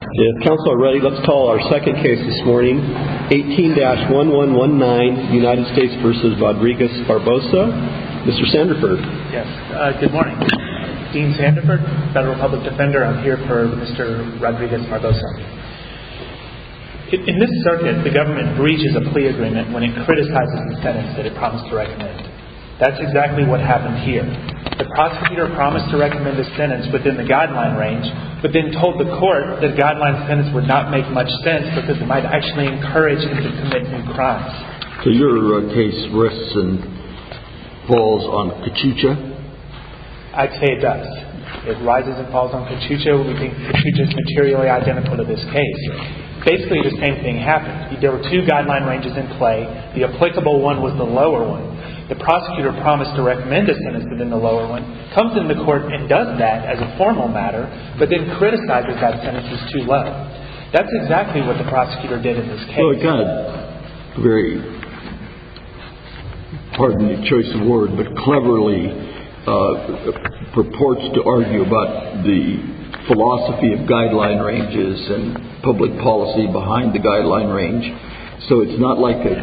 In this circuit, the government breaches a plea agreement when it criticizes the sentence that it promised to recommend. That's exactly what happened here. The prosecutor promised to recommend a sentence within the guideline range, but then told the court that a guideline sentence would not make much sense because it might actually encourage him to commit new crimes. So your case risks and falls on Kachucha? I'd say it does. It rises and falls on Kachucha. We think Kachucha is materially identical to this case. Basically the same thing happened. There were two guideline ranges in play. The applicable one was the lower one. The prosecutor promised to recommend a sentence within the as a formal matter, but then criticizes that sentence as too low. That's exactly what the prosecutor did in this case. Well, he kind of very, pardon the choice of word, but cleverly purports to argue about the philosophy of guideline ranges and public policy behind the guideline range. So it's not like a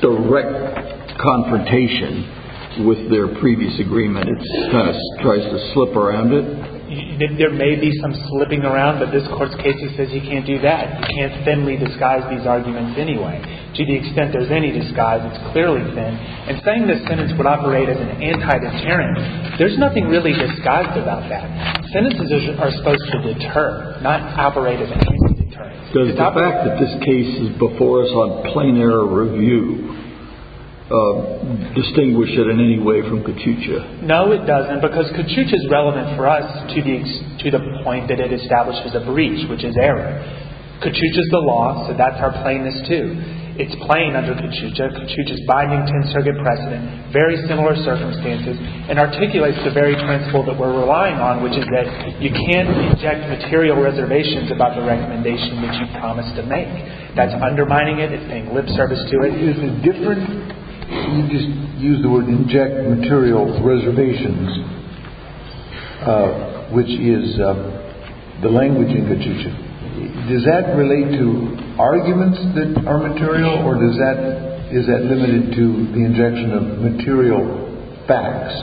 direct confrontation with their previous agreement. It kind of tries to slip around it. There may be some slipping around, but this Court's case says you can't do that. You can't thinly disguise these arguments anyway. To the extent there's any disguise, it's clearly thin. And saying this sentence would operate as an anti-deterrence, there's nothing really disguised about that. Sentences are supposed to deter, not operate as an anti-deterrence. Does the fact that this case is before us on plain error review distinguish it in any way from Kaczucia? No, it doesn't, because Kaczucia is relevant for us to the point that it establishes a breach, which is error. Kaczucia is the law, so that's our plainness, too. It's plain under Kaczucia. Kaczucia is binding to insurgent precedent, very similar circumstances, and articulates the very principle that we're relying on, which is that you can't reject material reservations about the recommendation that you've promised to make. That's undermining it, it's paying lip service to it. Is it different, you just used the word inject material reservations, which is the language in Kaczucia. Does that relate to arguments that are material, or is that limited to the injection of material facts?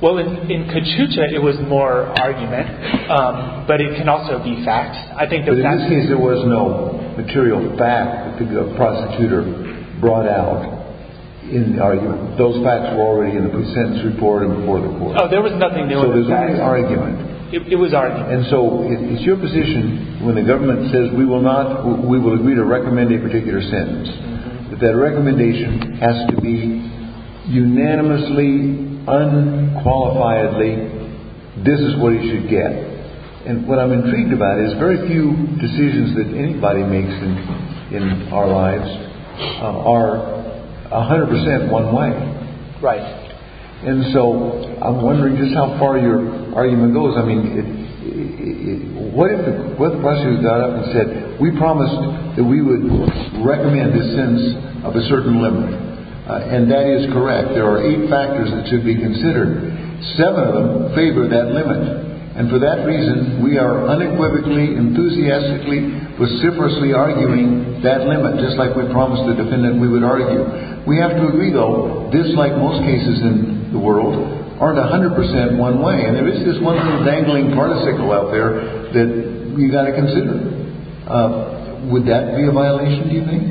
Well, in Kaczucia, it was more argument, but it can also be facts. But in this case, there was no material fact that the prosecutor brought out in the argument. Those facts were already in the consent report and before the court. Oh, there was nothing there. So there was only argument. It was argument. And so it's your position when the government says we will agree to recommend a this is what he should get. And what I'm intrigued about is very few decisions that anybody makes in our lives are 100% one way. Right. And so I'm wondering just how far your argument goes. I mean, what if the question was brought up and said, we promised that we would recommend a sense of a certain limit. And that is correct. There are eight factors that should be considered. Seven of them favor that limit. And for that reason, we are unequivocally, enthusiastically, vociferously arguing that limit, just like we promised the defendant we would argue. We have to agree, though, this, like most cases in the world, aren't 100% one way. And there is this one dangling particle out there that we've got to consider. Would that be a violation, do you think?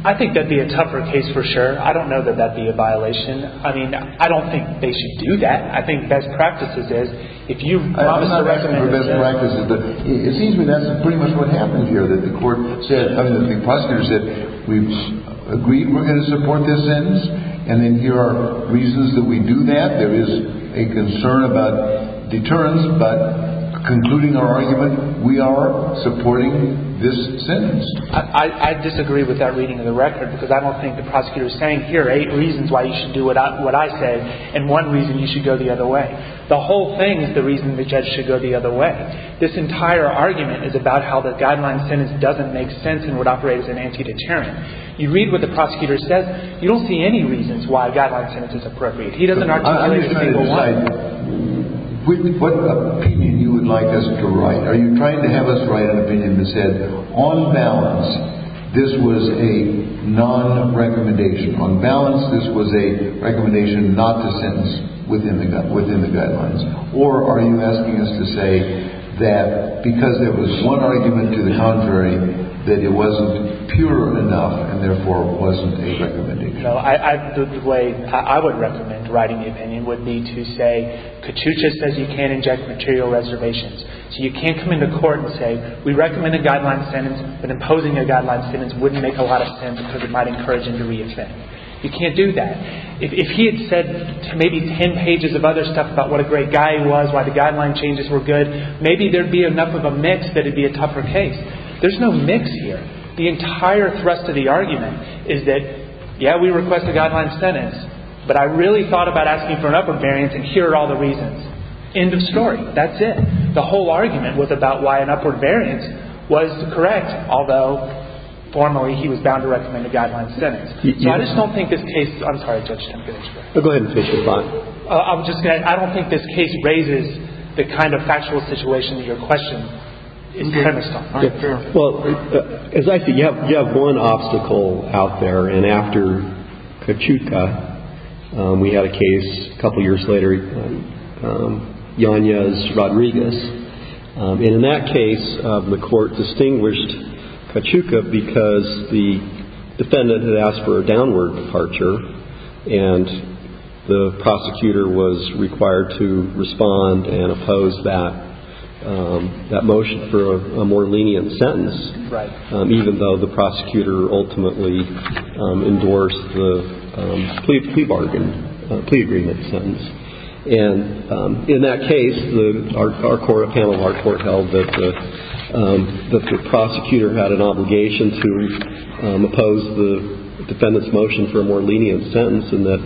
I think that'd be a tougher case for sure. I don't know that that'd be a violation. I mean, I don't think they should do that. I think best practices is if you I'm not asking for best practices, but it seems to me that's pretty much what happened here, that the court said, because there's that we've agreed we're going to support this sentence. And then here are reasons that we do that. There is a concern about deterrence. But concluding our argument, we are supporting this sentence. I disagree with that reading of the record, because I don't think the prosecutor is saying here are eight reasons why you should do what I said, and one reason you should go the other way. The whole thing is the reason the judge should go the other way. This entire argument is about how the guideline sentence doesn't make sense and would operate as an anti-deterrent. You read what the prosecutor says, you don't see any reasons why a guideline sentence is appropriate. He doesn't articulate to people what What opinion you would like us to write? Are you trying to have us write an opinion that said, on balance, this was a non-recommendation? On balance, this was a recommendation not to sentence within the guidelines? Or are you asking us to say that because there was one argument to the contrary, that it wasn't pure enough and therefore wasn't a recommendation? The way I would recommend writing the opinion would be to say, Kachucha says you can't reject material reservations. So you can't come into court and say, we recommend a guideline sentence, but imposing a guideline sentence wouldn't make a lot of sense because it might encourage injury as well. You can't do that. If he had said maybe ten pages of other stuff about what a great guy he was, why the guideline changes were good, maybe there would be enough of a mix that it would be a tougher case. There's no mix here. The entire thrust of the argument is that, yeah, we request a guideline sentence, but I really thought about asking for an upper variance and here are all the reasons. End of story. That's it. The whole argument was about why an upward variance was correct, although formally he was bound to recommend a guideline sentence. So I just don't think this case, I'm sorry, Judge, I'm going to interrupt. Go ahead and finish your thought. I'm just going to, I don't think this case raises the kind of factual situation that you're questioning. Well, exactly. You have one obstacle out there, and after Kachucha, we had a case a couple years later, Yanez-Rodriguez. And in that case, the court distinguished Kachucha because the defendant had asked for a downward departure and the prosecutor was required to respond and oppose that motion for a more lenient sentence, even though the prosecutor ultimately endorsed the plea bargain, plea agreement sentence. And in that case, our panel of our court held that the prosecutor had an obligation to oppose the defendant's motion for a more lenient sentence and that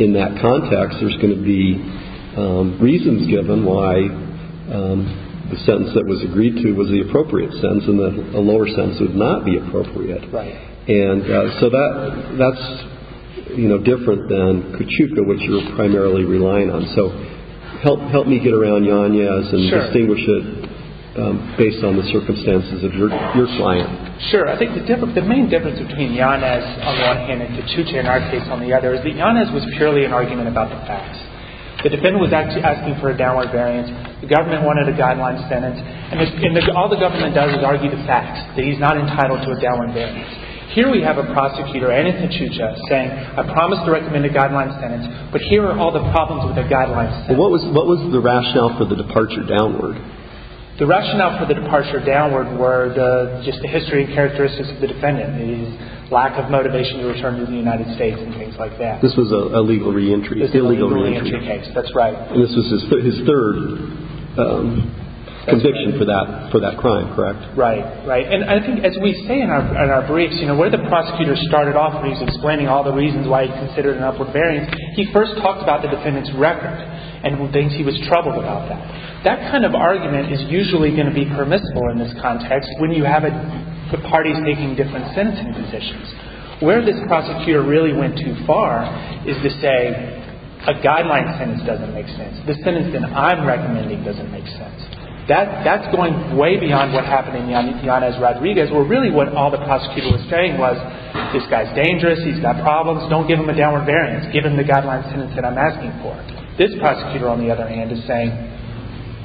in that context, there's going to be reasons given why the sentence that was agreed to was the appropriate sentence and the lower sentence would not be appropriate. Right. And so that's, you know, different than Kachuca, which you're primarily relying on. So help me get around Yanez and distinguish it based on the circumstances of your client. Sure. I think the main difference between Yanez on one hand and Kachucha in our case on the other is that Yanez was purely an argument about the facts. The defendant was actually asking for a downward variance. The government wanted a guideline sentence. And all the government does is argue the facts, that he's not entitled to a downward variance. Here we have a prosecutor and a Kachuca saying, I promise to recommend a guideline sentence, but here are all the problems with a guideline sentence. What was the rationale for the departure downward? The rationale for the departure downward were just the history and characteristics of the defendant, his lack of motivation to return to the United States and things like that. This was a legal reentry. This was a legal reentry case. That's right. And this was his third conviction for that crime, correct? Right. Right. And I think as we say in our briefs, you know, where the prosecutor started off when he's explaining all the reasons why he considered an upward variance, he first talks about the defendant's record and thinks he was troubled about that. That kind of argument is usually going to be permissible in this context when you have the parties taking different sentencing positions. Where this prosecutor really went too far is to say a guideline sentence doesn't make sense. The sentence that I'm recommending doesn't make sense. That's going way beyond what happened in Yanis Rodriguez, where really what all the prosecutor was saying was this guy's dangerous, he's got problems, don't give him a downward variance, give him the guideline sentence that I'm asking for. This prosecutor, on the other hand, is saying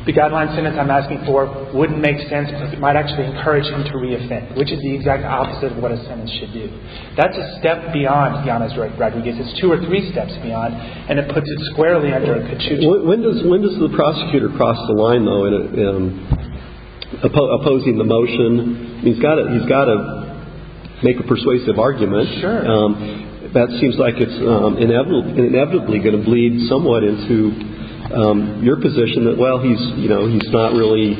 the guideline sentence I'm asking for wouldn't make sense because it might actually encourage him to re-offend, which is the exact opposite of what a sentence should do. That's a step beyond Yanis Rodriguez. It's two or three steps beyond, and it puts it squarely under a patchouli. When does the prosecutor cross the line, though, in opposing the motion? He's got to make a persuasive argument. Sure. That seems like it's inevitably going to bleed somewhat into your position that, well, he's not really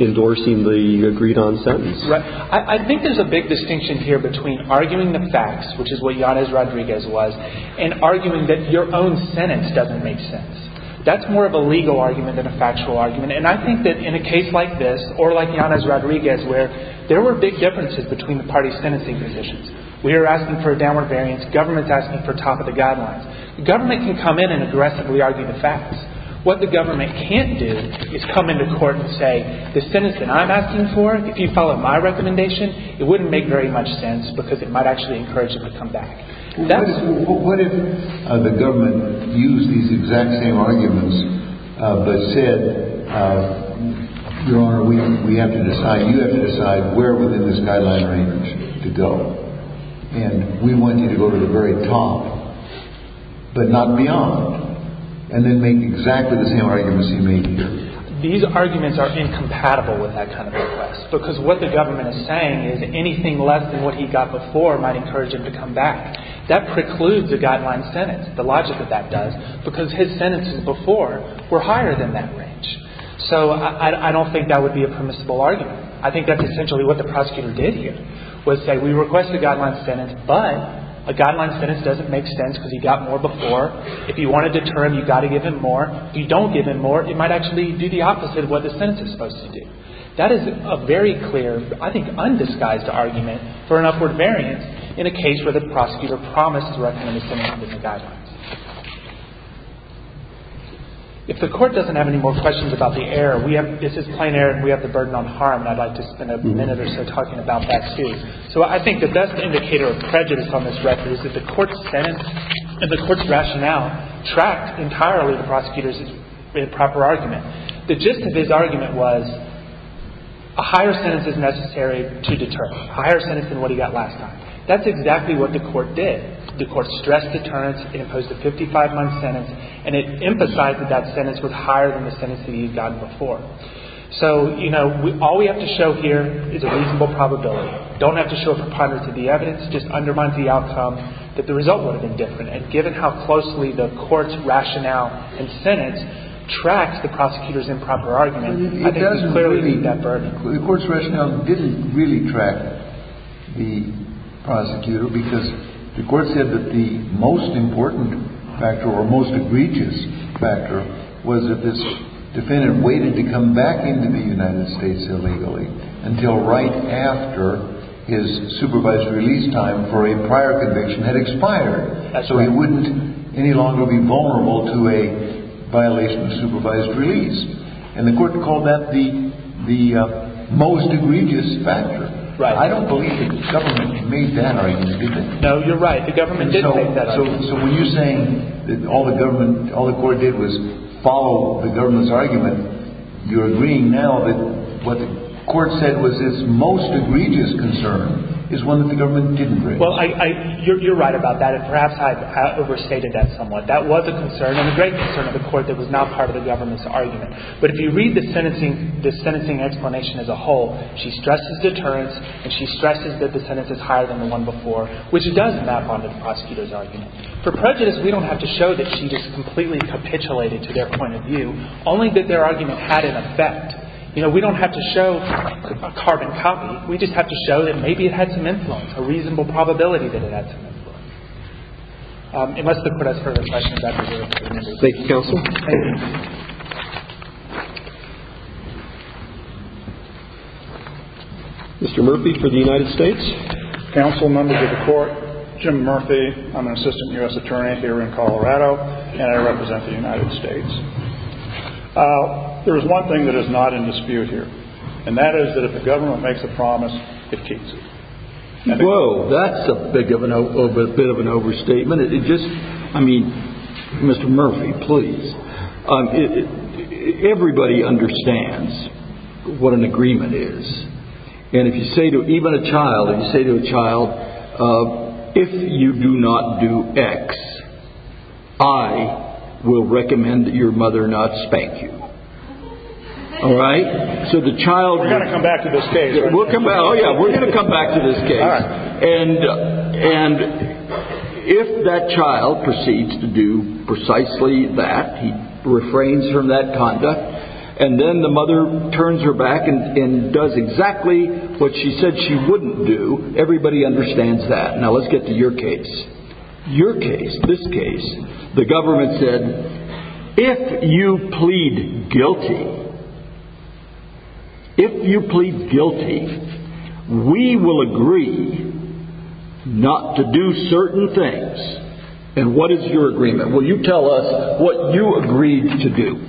endorsing the agreed-on sentence. Right. I think there's a big distinction here between arguing the facts, which is what Yanis Rodriguez was, and arguing that your own sentence doesn't make sense. That's more of a legal argument than a factual argument, and I think that in a case like this or like Yanis Rodriguez, where there were big differences between the parties' sentencing positions. We are asking for a downward variance. Government's asking for top-of-the-guidelines. Government can come in and aggressively argue the facts. What the government can't do is come into court and say the sentence that I'm asking for, if you follow my recommendation, it wouldn't make very much sense because it might actually encourage them to come back. What if the government used these exact same arguments but said, Your Honor, we have to decide, you have to decide where within the skyline range to go, and we want you to go to the very top, but not beyond, and then make exactly the same arguments you made here? These arguments are incompatible with that kind of request because what the government before might encourage them to come back. That precludes a guideline sentence, the logic that that does, because his sentences before were higher than that range. So I don't think that would be a permissible argument. I think that's essentially what the prosecutor did here, was say, We request a guideline sentence, but a guideline sentence doesn't make sense because he got more before. If you want to deter him, you've got to give him more. If you don't give him more, it might actually do the opposite of what the sentence is supposed to do. That is a very clear, I think, undisguised argument for an upward variance in a case where the prosecutor promised to recommend a sentence under the guidelines. If the court doesn't have any more questions about the error, this is plain error, and we have the burden on harm, and I'd like to spend a minute or so talking about that, too. So I think the best indicator of prejudice on this record is that the court's sentence and the court's rationale tracked entirely the prosecutor's proper argument. The gist of his argument was a higher sentence is necessary to deter him, a higher sentence than what he got last time. That's exactly what the court did. The court stressed deterrence, imposed a 55-month sentence, and it emphasized that that sentence was higher than the sentence that he had gotten before. So, you know, all we have to show here is a reasonable probability. We don't have to show a preponderance of the evidence. It just undermines the outcome that the result would have been different. And given how closely the court's rationale and sentence tracks the prosecutor's improper argument, I think we clearly meet that burden. The court's rationale didn't really track the prosecutor because the court said that the most important factor or most egregious factor was that this defendant waited to come back into the United States illegally until right after his supervised release time for a prior conviction had expired. So he wouldn't any longer be vulnerable to a violation of supervised release. And the court called that the most egregious factor. I don't believe the government made that argument, do you? No, you're right. The government did make that argument. So when you're saying that all the government, all the court did was follow the government's argument, you're agreeing now that what the court said was its most egregious concern is one that the government didn't raise. Well, you're right about that, and perhaps I overstated that somewhat. That was a concern and a great concern of the court that was not part of the government's argument. But if you read the sentencing, the sentencing explanation as a whole, she stresses deterrence and she stresses that the sentence is higher than the one before, which does map onto the prosecutor's argument. For prejudice, we don't have to show that she just completely capitulated to their point of view, only that their argument had an effect. You know, we don't have to show a carbon copy. We just have to show that maybe it had some influence, a reasonable probability that it had some influence. It must have put us further questions. Thank you, Counsel. Mr. Murphy for the United States. Counsel, members of the court, Jim Murphy. I'm an assistant U.S. attorney here in Colorado, and I represent the United States. There is one thing that is not in dispute here, and that is that if the government makes a promise, it keeps it. Whoa, that's a bit of an overstatement. It just, I mean, Mr. Murphy, please. Everybody understands what an agreement is. And if you say to even a child, if you say to a child, if you do not do X, I will recommend that your mother not spank you. All right? We're going to come back to this case, right? Oh, yeah, we're going to come back to this case. And if that child proceeds to do precisely that, he refrains from that conduct, and then the mother turns her back and does exactly what she said she wouldn't do, everybody understands that. Now, let's get to your case. Your case, this case, the government said, if you plead guilty, if you plead guilty, we will agree not to do certain things. And what is your agreement? Will you tell us what you agreed to do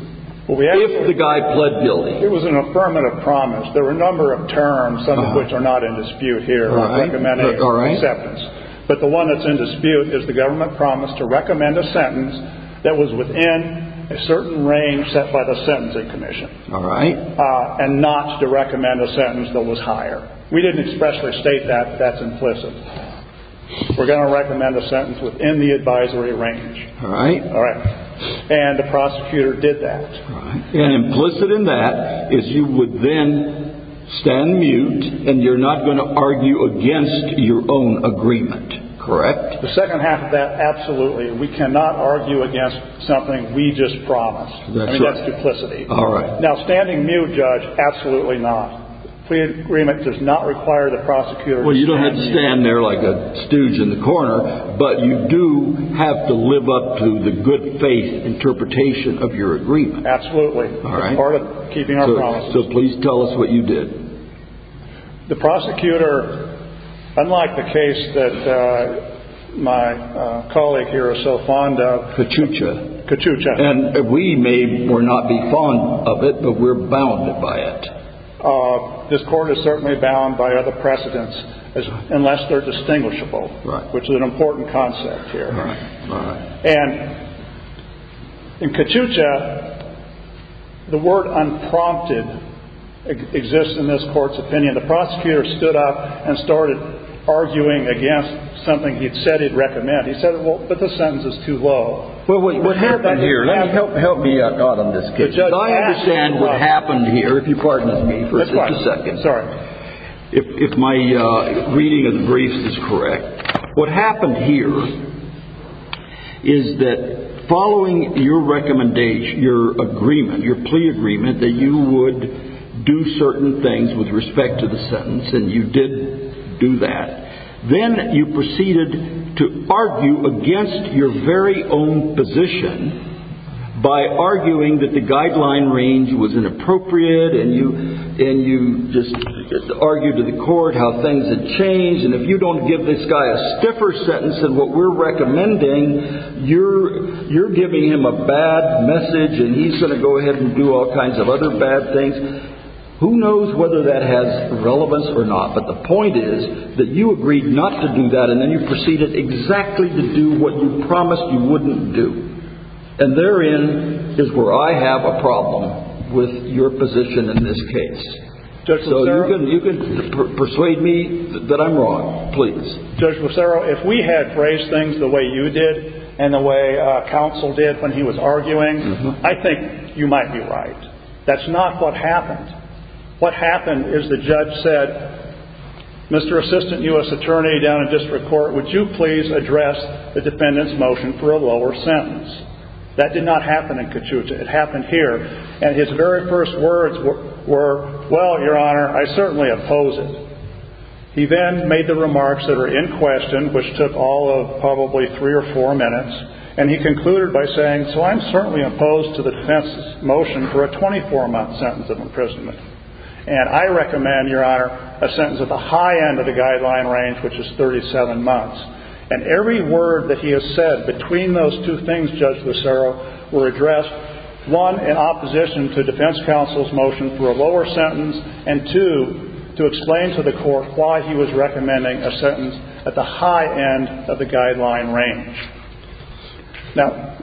if the guy pled guilty? It was an affirmative promise. There were a number of terms, some of which are not in dispute here. But the one that's in dispute is the government promised to recommend a sentence that was within a certain range set by the Sentencing Commission, and not to recommend a sentence that was higher. We didn't expressly state that. That's implicit. We're going to recommend a sentence within the advisory range. All right? And the prosecutor did that. And implicit in that is you would then stand mute, and you're not going to argue against your own agreement. Correct? The second half of that, absolutely. We cannot argue against something we just promised. I mean, that's duplicity. All right. Now, standing mute, Judge, absolutely not. A plea agreement does not require the prosecutor to stand mute. Well, you don't have to stand there like a stooge in the corner, but you do have to live up to the good faith interpretation of your agreement. Absolutely. All right. Part of keeping our promises. So please tell us what you did. The prosecutor, unlike the case that my colleague here is so fond of... Kachucha. Kachucha. And we may or not be fond of it, but we're bounded by it. This court is certainly bound by other precedents, unless they're distinguishable, which is an important concept here. Right. Right. And in Kachucha, the word unprompted exists in this court's opinion. The prosecutor stood up and started arguing against something he'd said he'd recommend. He said, well, but the sentence is too low. Well, what happened here... Help me out, God, on this case. I understand what happened here, if you pardon me for just a second. That's fine. Sorry. If my reading of the briefs is correct. What happened here is that following your recommendation, your agreement, your plea agreement, that you would do certain things with respect to the sentence, and you did do that. Then you proceeded to argue against your very own position by arguing that the guideline range was inappropriate, and you just argued to the court how things had changed, and if you don't give this guy a stiffer sentence than what we're recommending, you're giving him a bad message, and he's going to go ahead and do all kinds of other bad things. Who knows whether that has relevance or not? But the point is that you agreed not to do that, and then you proceeded exactly to do what you promised you wouldn't do. And therein is where I have a problem with your position in this case. So you can persuade me that I'm wrong, please. Judge Lucero, if we had phrased things the way you did and the way counsel did when he was arguing, I think you might be right. That's not what happened. What happened is the judge said, Mr. Assistant U.S. Attorney down in District Court, would you please address the defendant's motion for a lower sentence? That did not happen in Kachuta. It happened here. And his very first words were, well, Your Honor, I certainly oppose it. He then made the remarks that are in question, which took all of probably three or four minutes, and he concluded by saying, so I'm certainly opposed to the defense's motion for a 24-month sentence of imprisonment. And I recommend, Your Honor, a sentence at the high end of the guideline range, which is 37 months. And every word that he has said between those two things, Judge Lucero, were addressed, one, in opposition to defense counsel's motion for a lower sentence, and two, to explain to the court why he was recommending a sentence at the high end of the guideline range.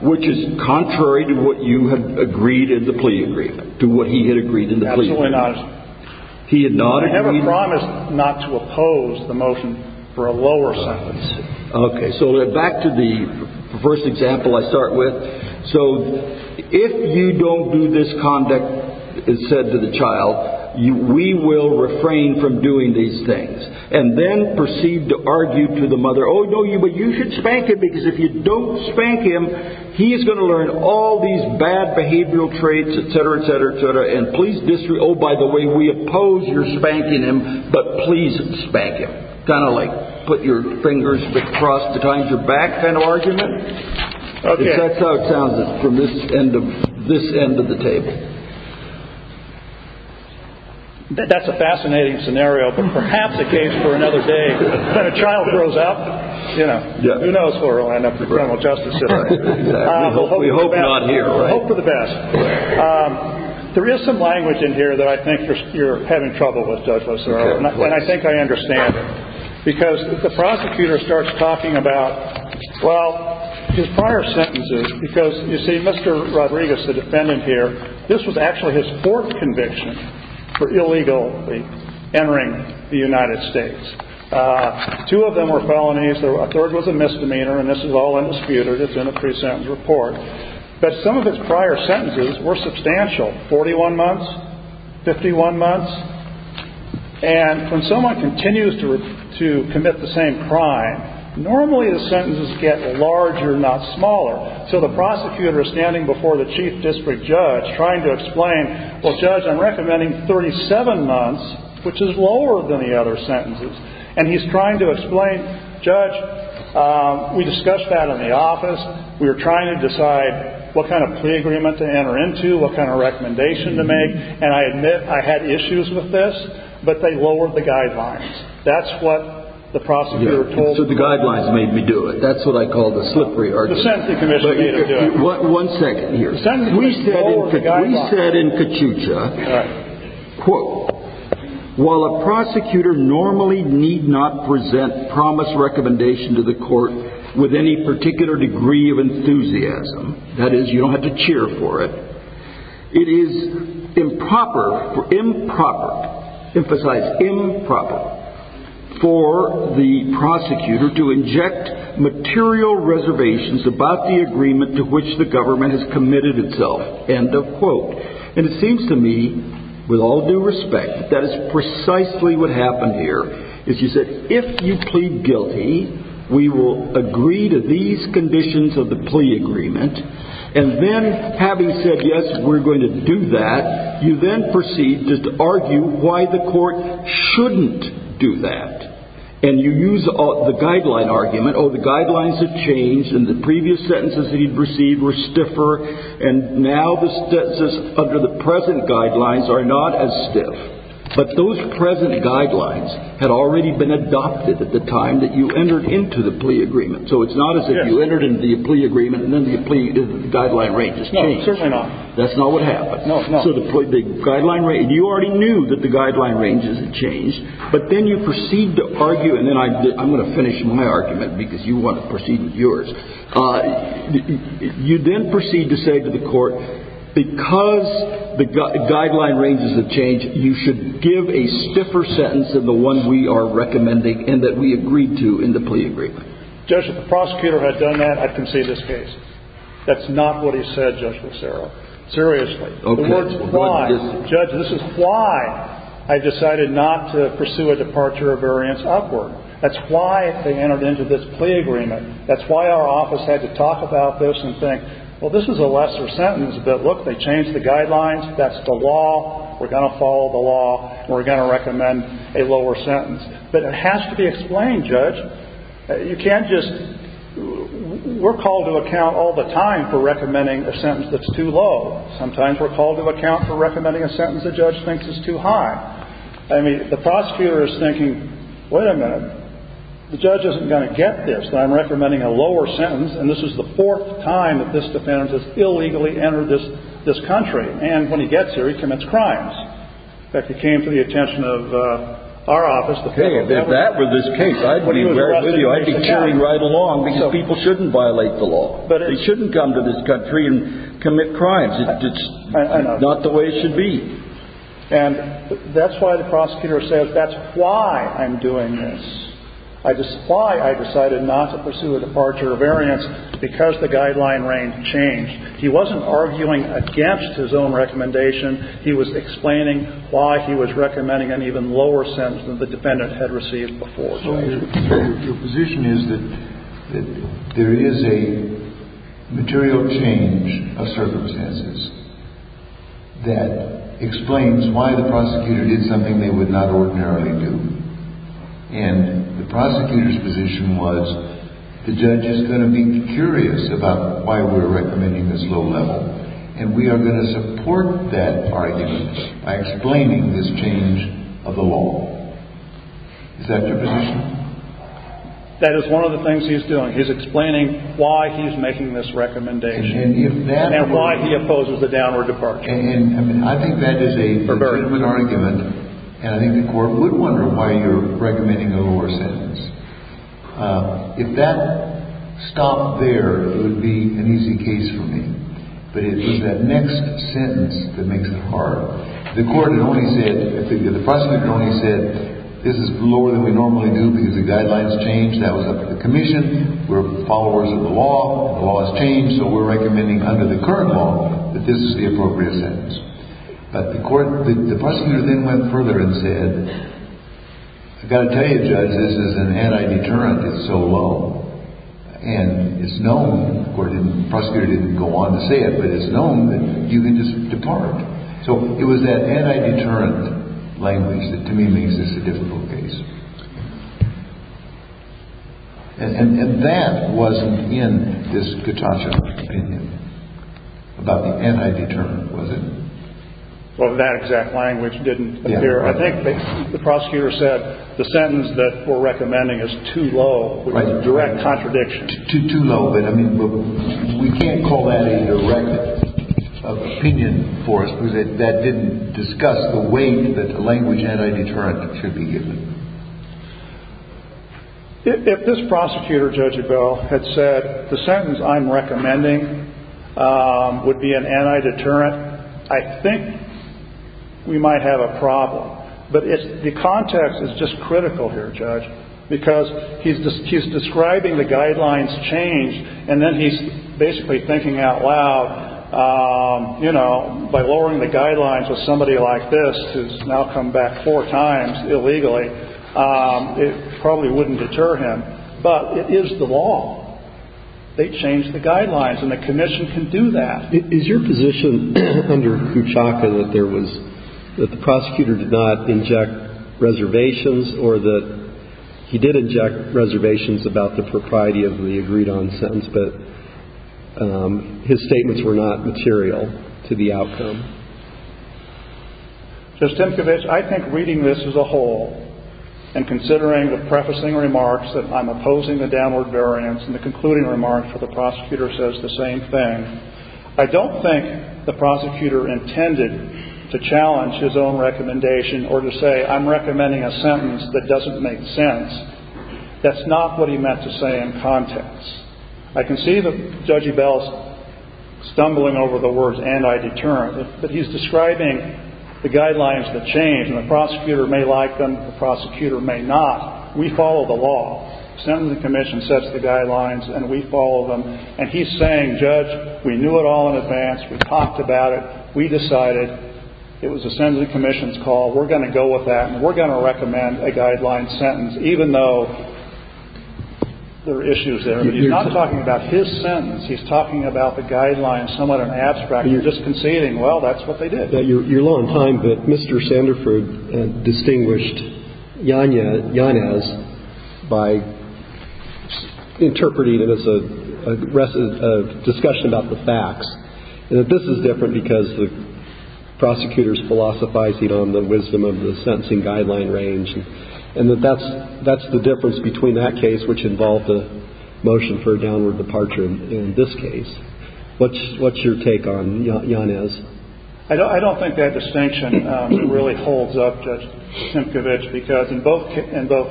Which is contrary to what you had agreed in the plea agreement, to what he had agreed in the plea agreement. Absolutely not. He had not agreed. I promise not to oppose the motion for a lower sentence. Okay. So back to the first example I start with. So if you don't do this conduct, as said to the child, we will refrain from doing these things. And then proceed to argue to the mother, oh, no, but you should spank him, because if you don't spank him, he is going to learn all these bad behavioral traits, et cetera, et cetera, et cetera. And please disagree. Oh, by the way, we oppose your spanking him, but please spank him. Kind of like, put your fingers across the side of your back kind of argument. Okay. That's how it sounds from this end of the table. That's a fascinating scenario, but perhaps a case for another day. When a child grows up, you know, who knows where it will end up, the criminal justice system. We hope not here. Hope for the best. There is some language in here that I think you're having trouble with, Judge Lozano, and I think I understand. Because the prosecutor starts talking about, well, his prior sentences, because, you see, Mr. Rodriguez, the defendant here, this was actually his fourth conviction for illegally entering the United States. Two of them were felonies. A third was a misdemeanor, and this is all disputed. It's in a pre-sentence report. But some of his prior sentences were substantial, 41 months, 51 months. And when someone continues to commit the same crime, normally the sentences get larger, not smaller. So the prosecutor is standing before the chief district judge trying to explain, well, Judge, I'm recommending 37 months, which is lower than the other sentences. And he's trying to explain, Judge, we discussed that in the office. We were trying to decide what kind of plea agreement to enter into, what kind of recommendation to make. And I admit I had issues with this, but they lowered the guidelines. That's what the prosecutor told me. So the guidelines made me do it. That's what I call the slippery art. The sentencing commission made me do it. One second here. The sentencing commission lowered the guidelines. We said in Kachucha, quote, while a prosecutor normally need not present promise or recommendation to the court with any particular degree of enthusiasm, that is, you don't have to cheer for it, it is improper, improper, emphasize improper, for the prosecutor to inject material reservations about the agreement to which the government has committed itself, end of quote. And it seems to me, with all due respect, that is precisely what happened here. Is you said, if you plead guilty, we will agree to these conditions of the plea agreement. And then having said, yes, we're going to do that, you then proceed to argue why the court shouldn't do that. And you use the guideline argument, oh, the guidelines have changed, and the previous sentences that he'd received were stiffer, and now the sentences under the present guidelines are not as stiff. But those present guidelines had already been adopted at the time that you entered into the plea agreement. So it's not as if you entered into the plea agreement and then the plea guideline ranges changed. No, certainly not. That's not what happened. No, no. So the guideline range, you already knew that the guideline ranges had changed, but then you proceed to argue, and then I'm going to finish my argument because you want to proceed with yours. You then proceed to say to the court, because the guideline ranges have changed, you should give a stiffer sentence than the one we are recommending and that we agreed to in the plea agreement. Judge, if the prosecutor had done that, I'd concede this case. That's not what he said, Judge Lucero. Seriously. The word is why. Judge, this is why I decided not to pursue a departure of variance upward. That's why they entered into this plea agreement. That's why our office had to talk about this and think, well, this is a lesser sentence, but look, they changed the guidelines. That's the law. We're going to follow the law. We're going to recommend a lower sentence. But it has to be explained, Judge. You can't just – we're called to account all the time for recommending a sentence that's too low. Sometimes we're called to account for recommending a sentence the judge thinks is too high. I mean, the prosecutor is thinking, wait a minute, the judge isn't going to get this. I'm recommending a lower sentence, and this is the fourth time that this defendant has illegally entered this country. And when he gets here, he commits crimes. In fact, it came to the attention of our office. Okay. If that were this case, I'd be wearing it with you. I'd be cheering right along because people shouldn't violate the law. They shouldn't come to this country and commit crimes. It's not the way it should be. And that's why the prosecutor says that's why I'm doing this. That's why I decided not to pursue a departure of variance because the guideline range changed. He wasn't arguing against his own recommendation. He was explaining why he was recommending an even lower sentence than the defendant had received before. So your position is that there is a material change of circumstances that explains why the prosecutor did something they would not ordinarily do. And the prosecutor's position was the judge is going to be curious about why we're recommending this low level, and we are going to support that argument by explaining this change of the law. Is that your position? That is one of the things he's doing. He's explaining why he's making this recommendation and why he opposes a downward departure. And I think that is a very good argument. And I think the court would wonder why you're recommending a lower sentence. If that stopped there, it would be an easy case for me. But it was that next sentence that makes it hard. The court had only said, the prosecutor only said, this is lower than we normally do because the guidelines changed. That was up to the commission. We're followers of the law. The law has changed, so we're recommending under the current law that this is the appropriate sentence. But the prosecutor then went further and said, I've got to tell you, judge, this is an anti-deterrent. It's so low. And it's known, the prosecutor didn't go on to say it, but it's known that you can just depart. So it was that anti-deterrent language that to me makes this a difficult case. And that wasn't in this Gutascha opinion about the anti-deterrent, was it? Well, that exact language didn't appear. I think the prosecutor said the sentence that we're recommending is too low, which is a direct contradiction. Too low. But, I mean, we can't call that a direct opinion for us because that didn't discuss the weight that a language anti-deterrent should be given. If this prosecutor, Judge Abell, had said the sentence I'm recommending would be an anti-deterrent, I think we might have a problem. But the context is just critical here, Judge, because he's describing the guidelines change, and then he's basically thinking out loud, you know, by lowering the guidelines of somebody like this, who's now come back four times illegally, it probably wouldn't deter him. But it is the law. They changed the guidelines, and the commission can do that. Is your position under Kouchaka that there was – that the prosecutor did not inject reservations, or that he did inject reservations about the propriety of the agreed-on sentence, but his statements were not material to the outcome? Judge Timkovich, I think reading this as a whole and considering the prefacing remarks that I'm opposing the downward variance and the concluding remark for the prosecutor says the same thing, I don't think the prosecutor intended to challenge his own recommendation or to say I'm recommending a sentence that doesn't make sense. That's not what he meant to say in context. I can see that Judge Abell's stumbling over the words anti-deterrent, but he's describing the guidelines that change, and the prosecutor may like them, the prosecutor may not. We follow the law. Sentencing Commission sets the guidelines, and we follow them. And he's saying, Judge, we knew it all in advance. We talked about it. We decided it was a Sentencing Commission's call. We're going to go with that, and we're going to recommend a guideline sentence, even though there are issues there. He's not talking about his sentence. He's talking about the guidelines somewhat in abstract. You're just conceding, well, that's what they did. Now, you're low on time, but Mr. Sanderford distinguished Yanez by interpreting it as a discussion about the facts, and that this is different because the prosecutor's philosophizing on the wisdom of the sentencing guideline range, and that that's the difference between that case, which involved a motion for a downward departure in this case. What's your take on Yanez? I don't think that distinction really holds up, Judge Simcovich, because in both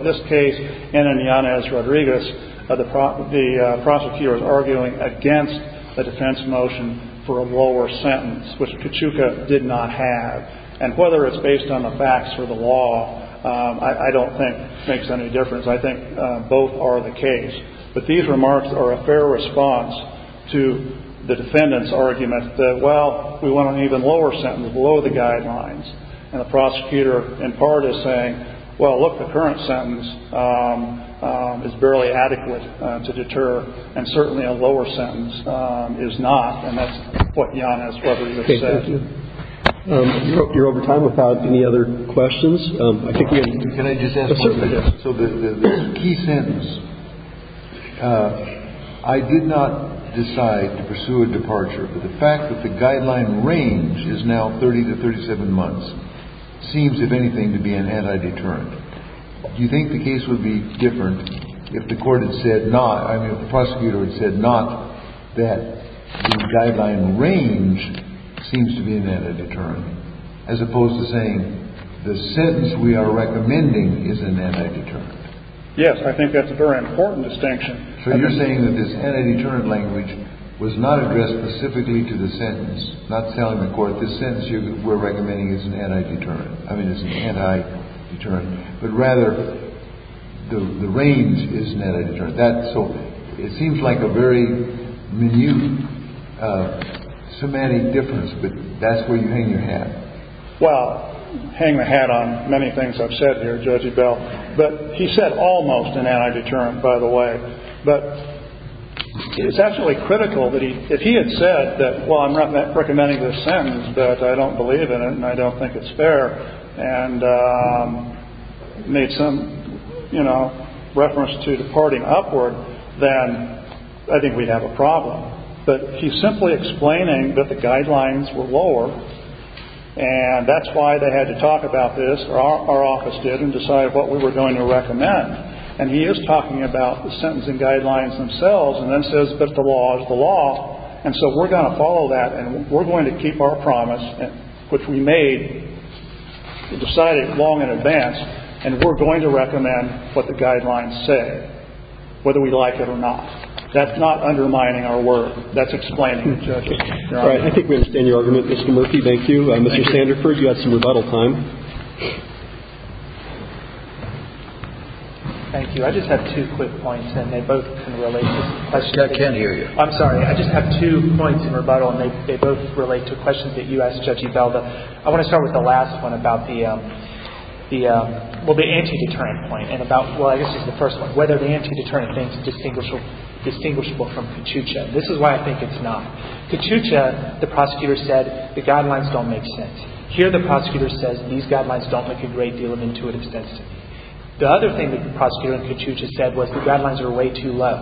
this case and in Yanez-Rodriguez, the prosecutor is arguing against a defense motion for a lower sentence, which Kachuka did not have. And whether it's based on the facts or the law, I don't think makes any difference. I think both are the case. But these remarks are a fair response to the defendant's argument that, well, we went on an even lower sentence below the guidelines. And the prosecutor, in part, is saying, well, look, the current sentence is barely adequate to deter, and certainly a lower sentence is not. And that's what Yanez-Rodriguez has said. Okay. Thank you. I hope you're over time without any other questions. Can I just ask one thing? Certainly. So the key sentence, I did not decide to pursue a departure. But the fact that the guideline range is now 30 to 37 months seems, if anything, to be an anti-deterrent. Do you think the case would be different if the court had said not, I mean, if the prosecutor had said not that the guideline range seems to be an anti-deterrent, as opposed to saying the sentence we are recommending is an anti-deterrent? Yes. I think that's a very important distinction. So you're saying that this anti-deterrent language was not addressed specifically to the sentence, not telling the court the sentence you were recommending is an anti-deterrent. I mean, it's an anti-deterrent. But rather, the range is an anti-deterrent. So it seems like a very minute semantic difference, but that's where you hang your hat. Well, hang the hat on many things I've said here, Judge Ebell. But he said almost an anti-deterrent, by the way. But it's absolutely critical that if he had said that, well, I'm recommending this sentence, but I don't believe in it and I don't think it's fair, and made some, you know, reference to departing upward, then I think we'd have a problem. But he's simply explaining that the guidelines were lower, and that's why they had to talk about this, or our office did, and decided what we were going to recommend. And he is talking about the sentencing guidelines themselves and then says that the law is the law. And so we're going to follow that and we're going to keep our promise, which we made and decided long in advance, and we're going to recommend what the guidelines say, whether we like it or not. That's not undermining our work. That's explaining it, Judge. All right. I think we understand your argument, Mr. Murphy. Thank you. Mr. Sanderford, you had some rebuttal time. Thank you. I just have two quick points, and they both can relate to questions. I can't hear you. I'm sorry. I just have two points in rebuttal, and they both relate to questions that you asked, Judge Evelda. I want to start with the last one about the, well, the anti-deterrent point, and about, well, I guess this is the first one, whether the anti-deterrent thing is distinguishable from Kachucha. This is why I think it's not. Kachucha, the prosecutor said, the guidelines don't make sense. Here the prosecutor says these guidelines don't make a great deal of intuitive sense. The other thing the prosecutor in Kachucha said was the guidelines are way too low.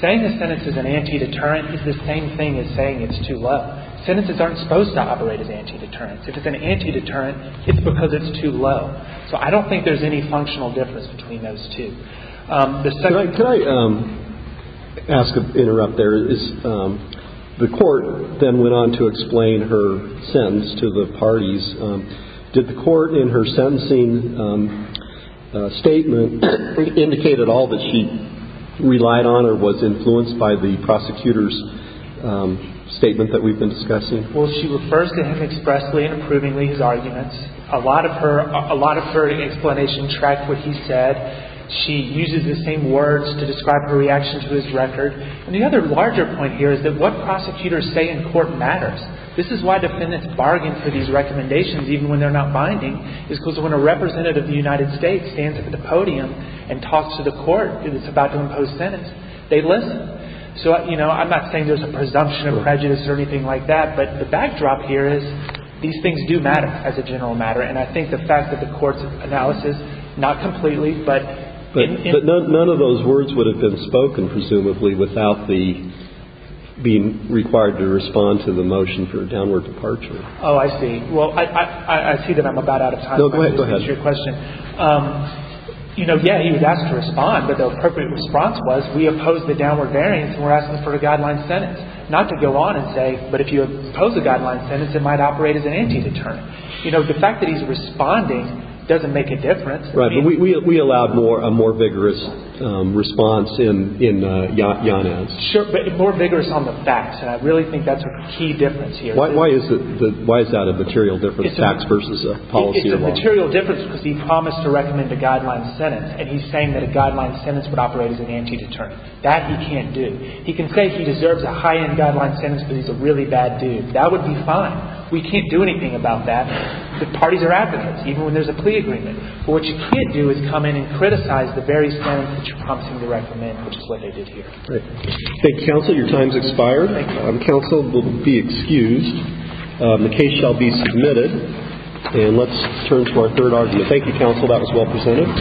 Saying the sentence is an anti-deterrent is the same thing as saying it's too low. Sentences aren't supposed to operate as anti-deterrents. If it's an anti-deterrent, it's because it's too low. So I don't think there's any functional difference between those two. Can I ask, interrupt there? The court then went on to explain her sentence to the parties. Did the court in her sentencing statement indicate at all that she relied on or was influenced by the prosecutor's statement that we've been discussing? Well, she refers to him expressly and approvingly, his arguments. A lot of her, a lot of her explanation tracked what he said. She uses the same words to describe her reaction to his record. And the other larger point here is that what prosecutors say in court matters. This is why defendants bargain for these recommendations even when they're not binding. It's because when a representative of the United States stands at the podium and talks to the court and it's about to impose sentence, they listen. So, you know, I'm not saying there's a presumption of prejudice or anything like that, but the backdrop here is these things do matter as a general matter. And I think the fact that the court's analysis, not completely, but in the end of the day. But none of those words would have been spoken, presumably, without the being required to respond to the motion for a downward departure. Oh, I see. Well, I see that I'm about out of time. No, go ahead. To answer your question. You know, yeah, he was asked to respond, but the appropriate response was, we oppose the downward variance and we're asking for a guideline sentence. Not to go on and say, but if you oppose a guideline sentence, it might operate as an anti-determinant. You know, the fact that he's responding doesn't make a difference. Right. But we allowed a more vigorous response in yon-ans. Sure, but more vigorous on the facts. And I really think that's a key difference here. Why is that a material difference, a tax versus a policy? It's a material difference because he promised to recommend a guideline sentence and he's saying that a guideline sentence would operate as an anti-determinant. That he can't do. He can say he deserves a high-end guideline sentence because he's a really bad dude. That would be fine. We can't do anything about that if the parties are advocates, even when there's a plea agreement. But what you can't do is come in and criticize the very sentence that you promised him to recommend, which is what they did here. Thank you, counsel. Your time has expired. Counsel will be excused. The case shall be submitted. And let's turn to our third argument. Thank you, counsel. That was well presented.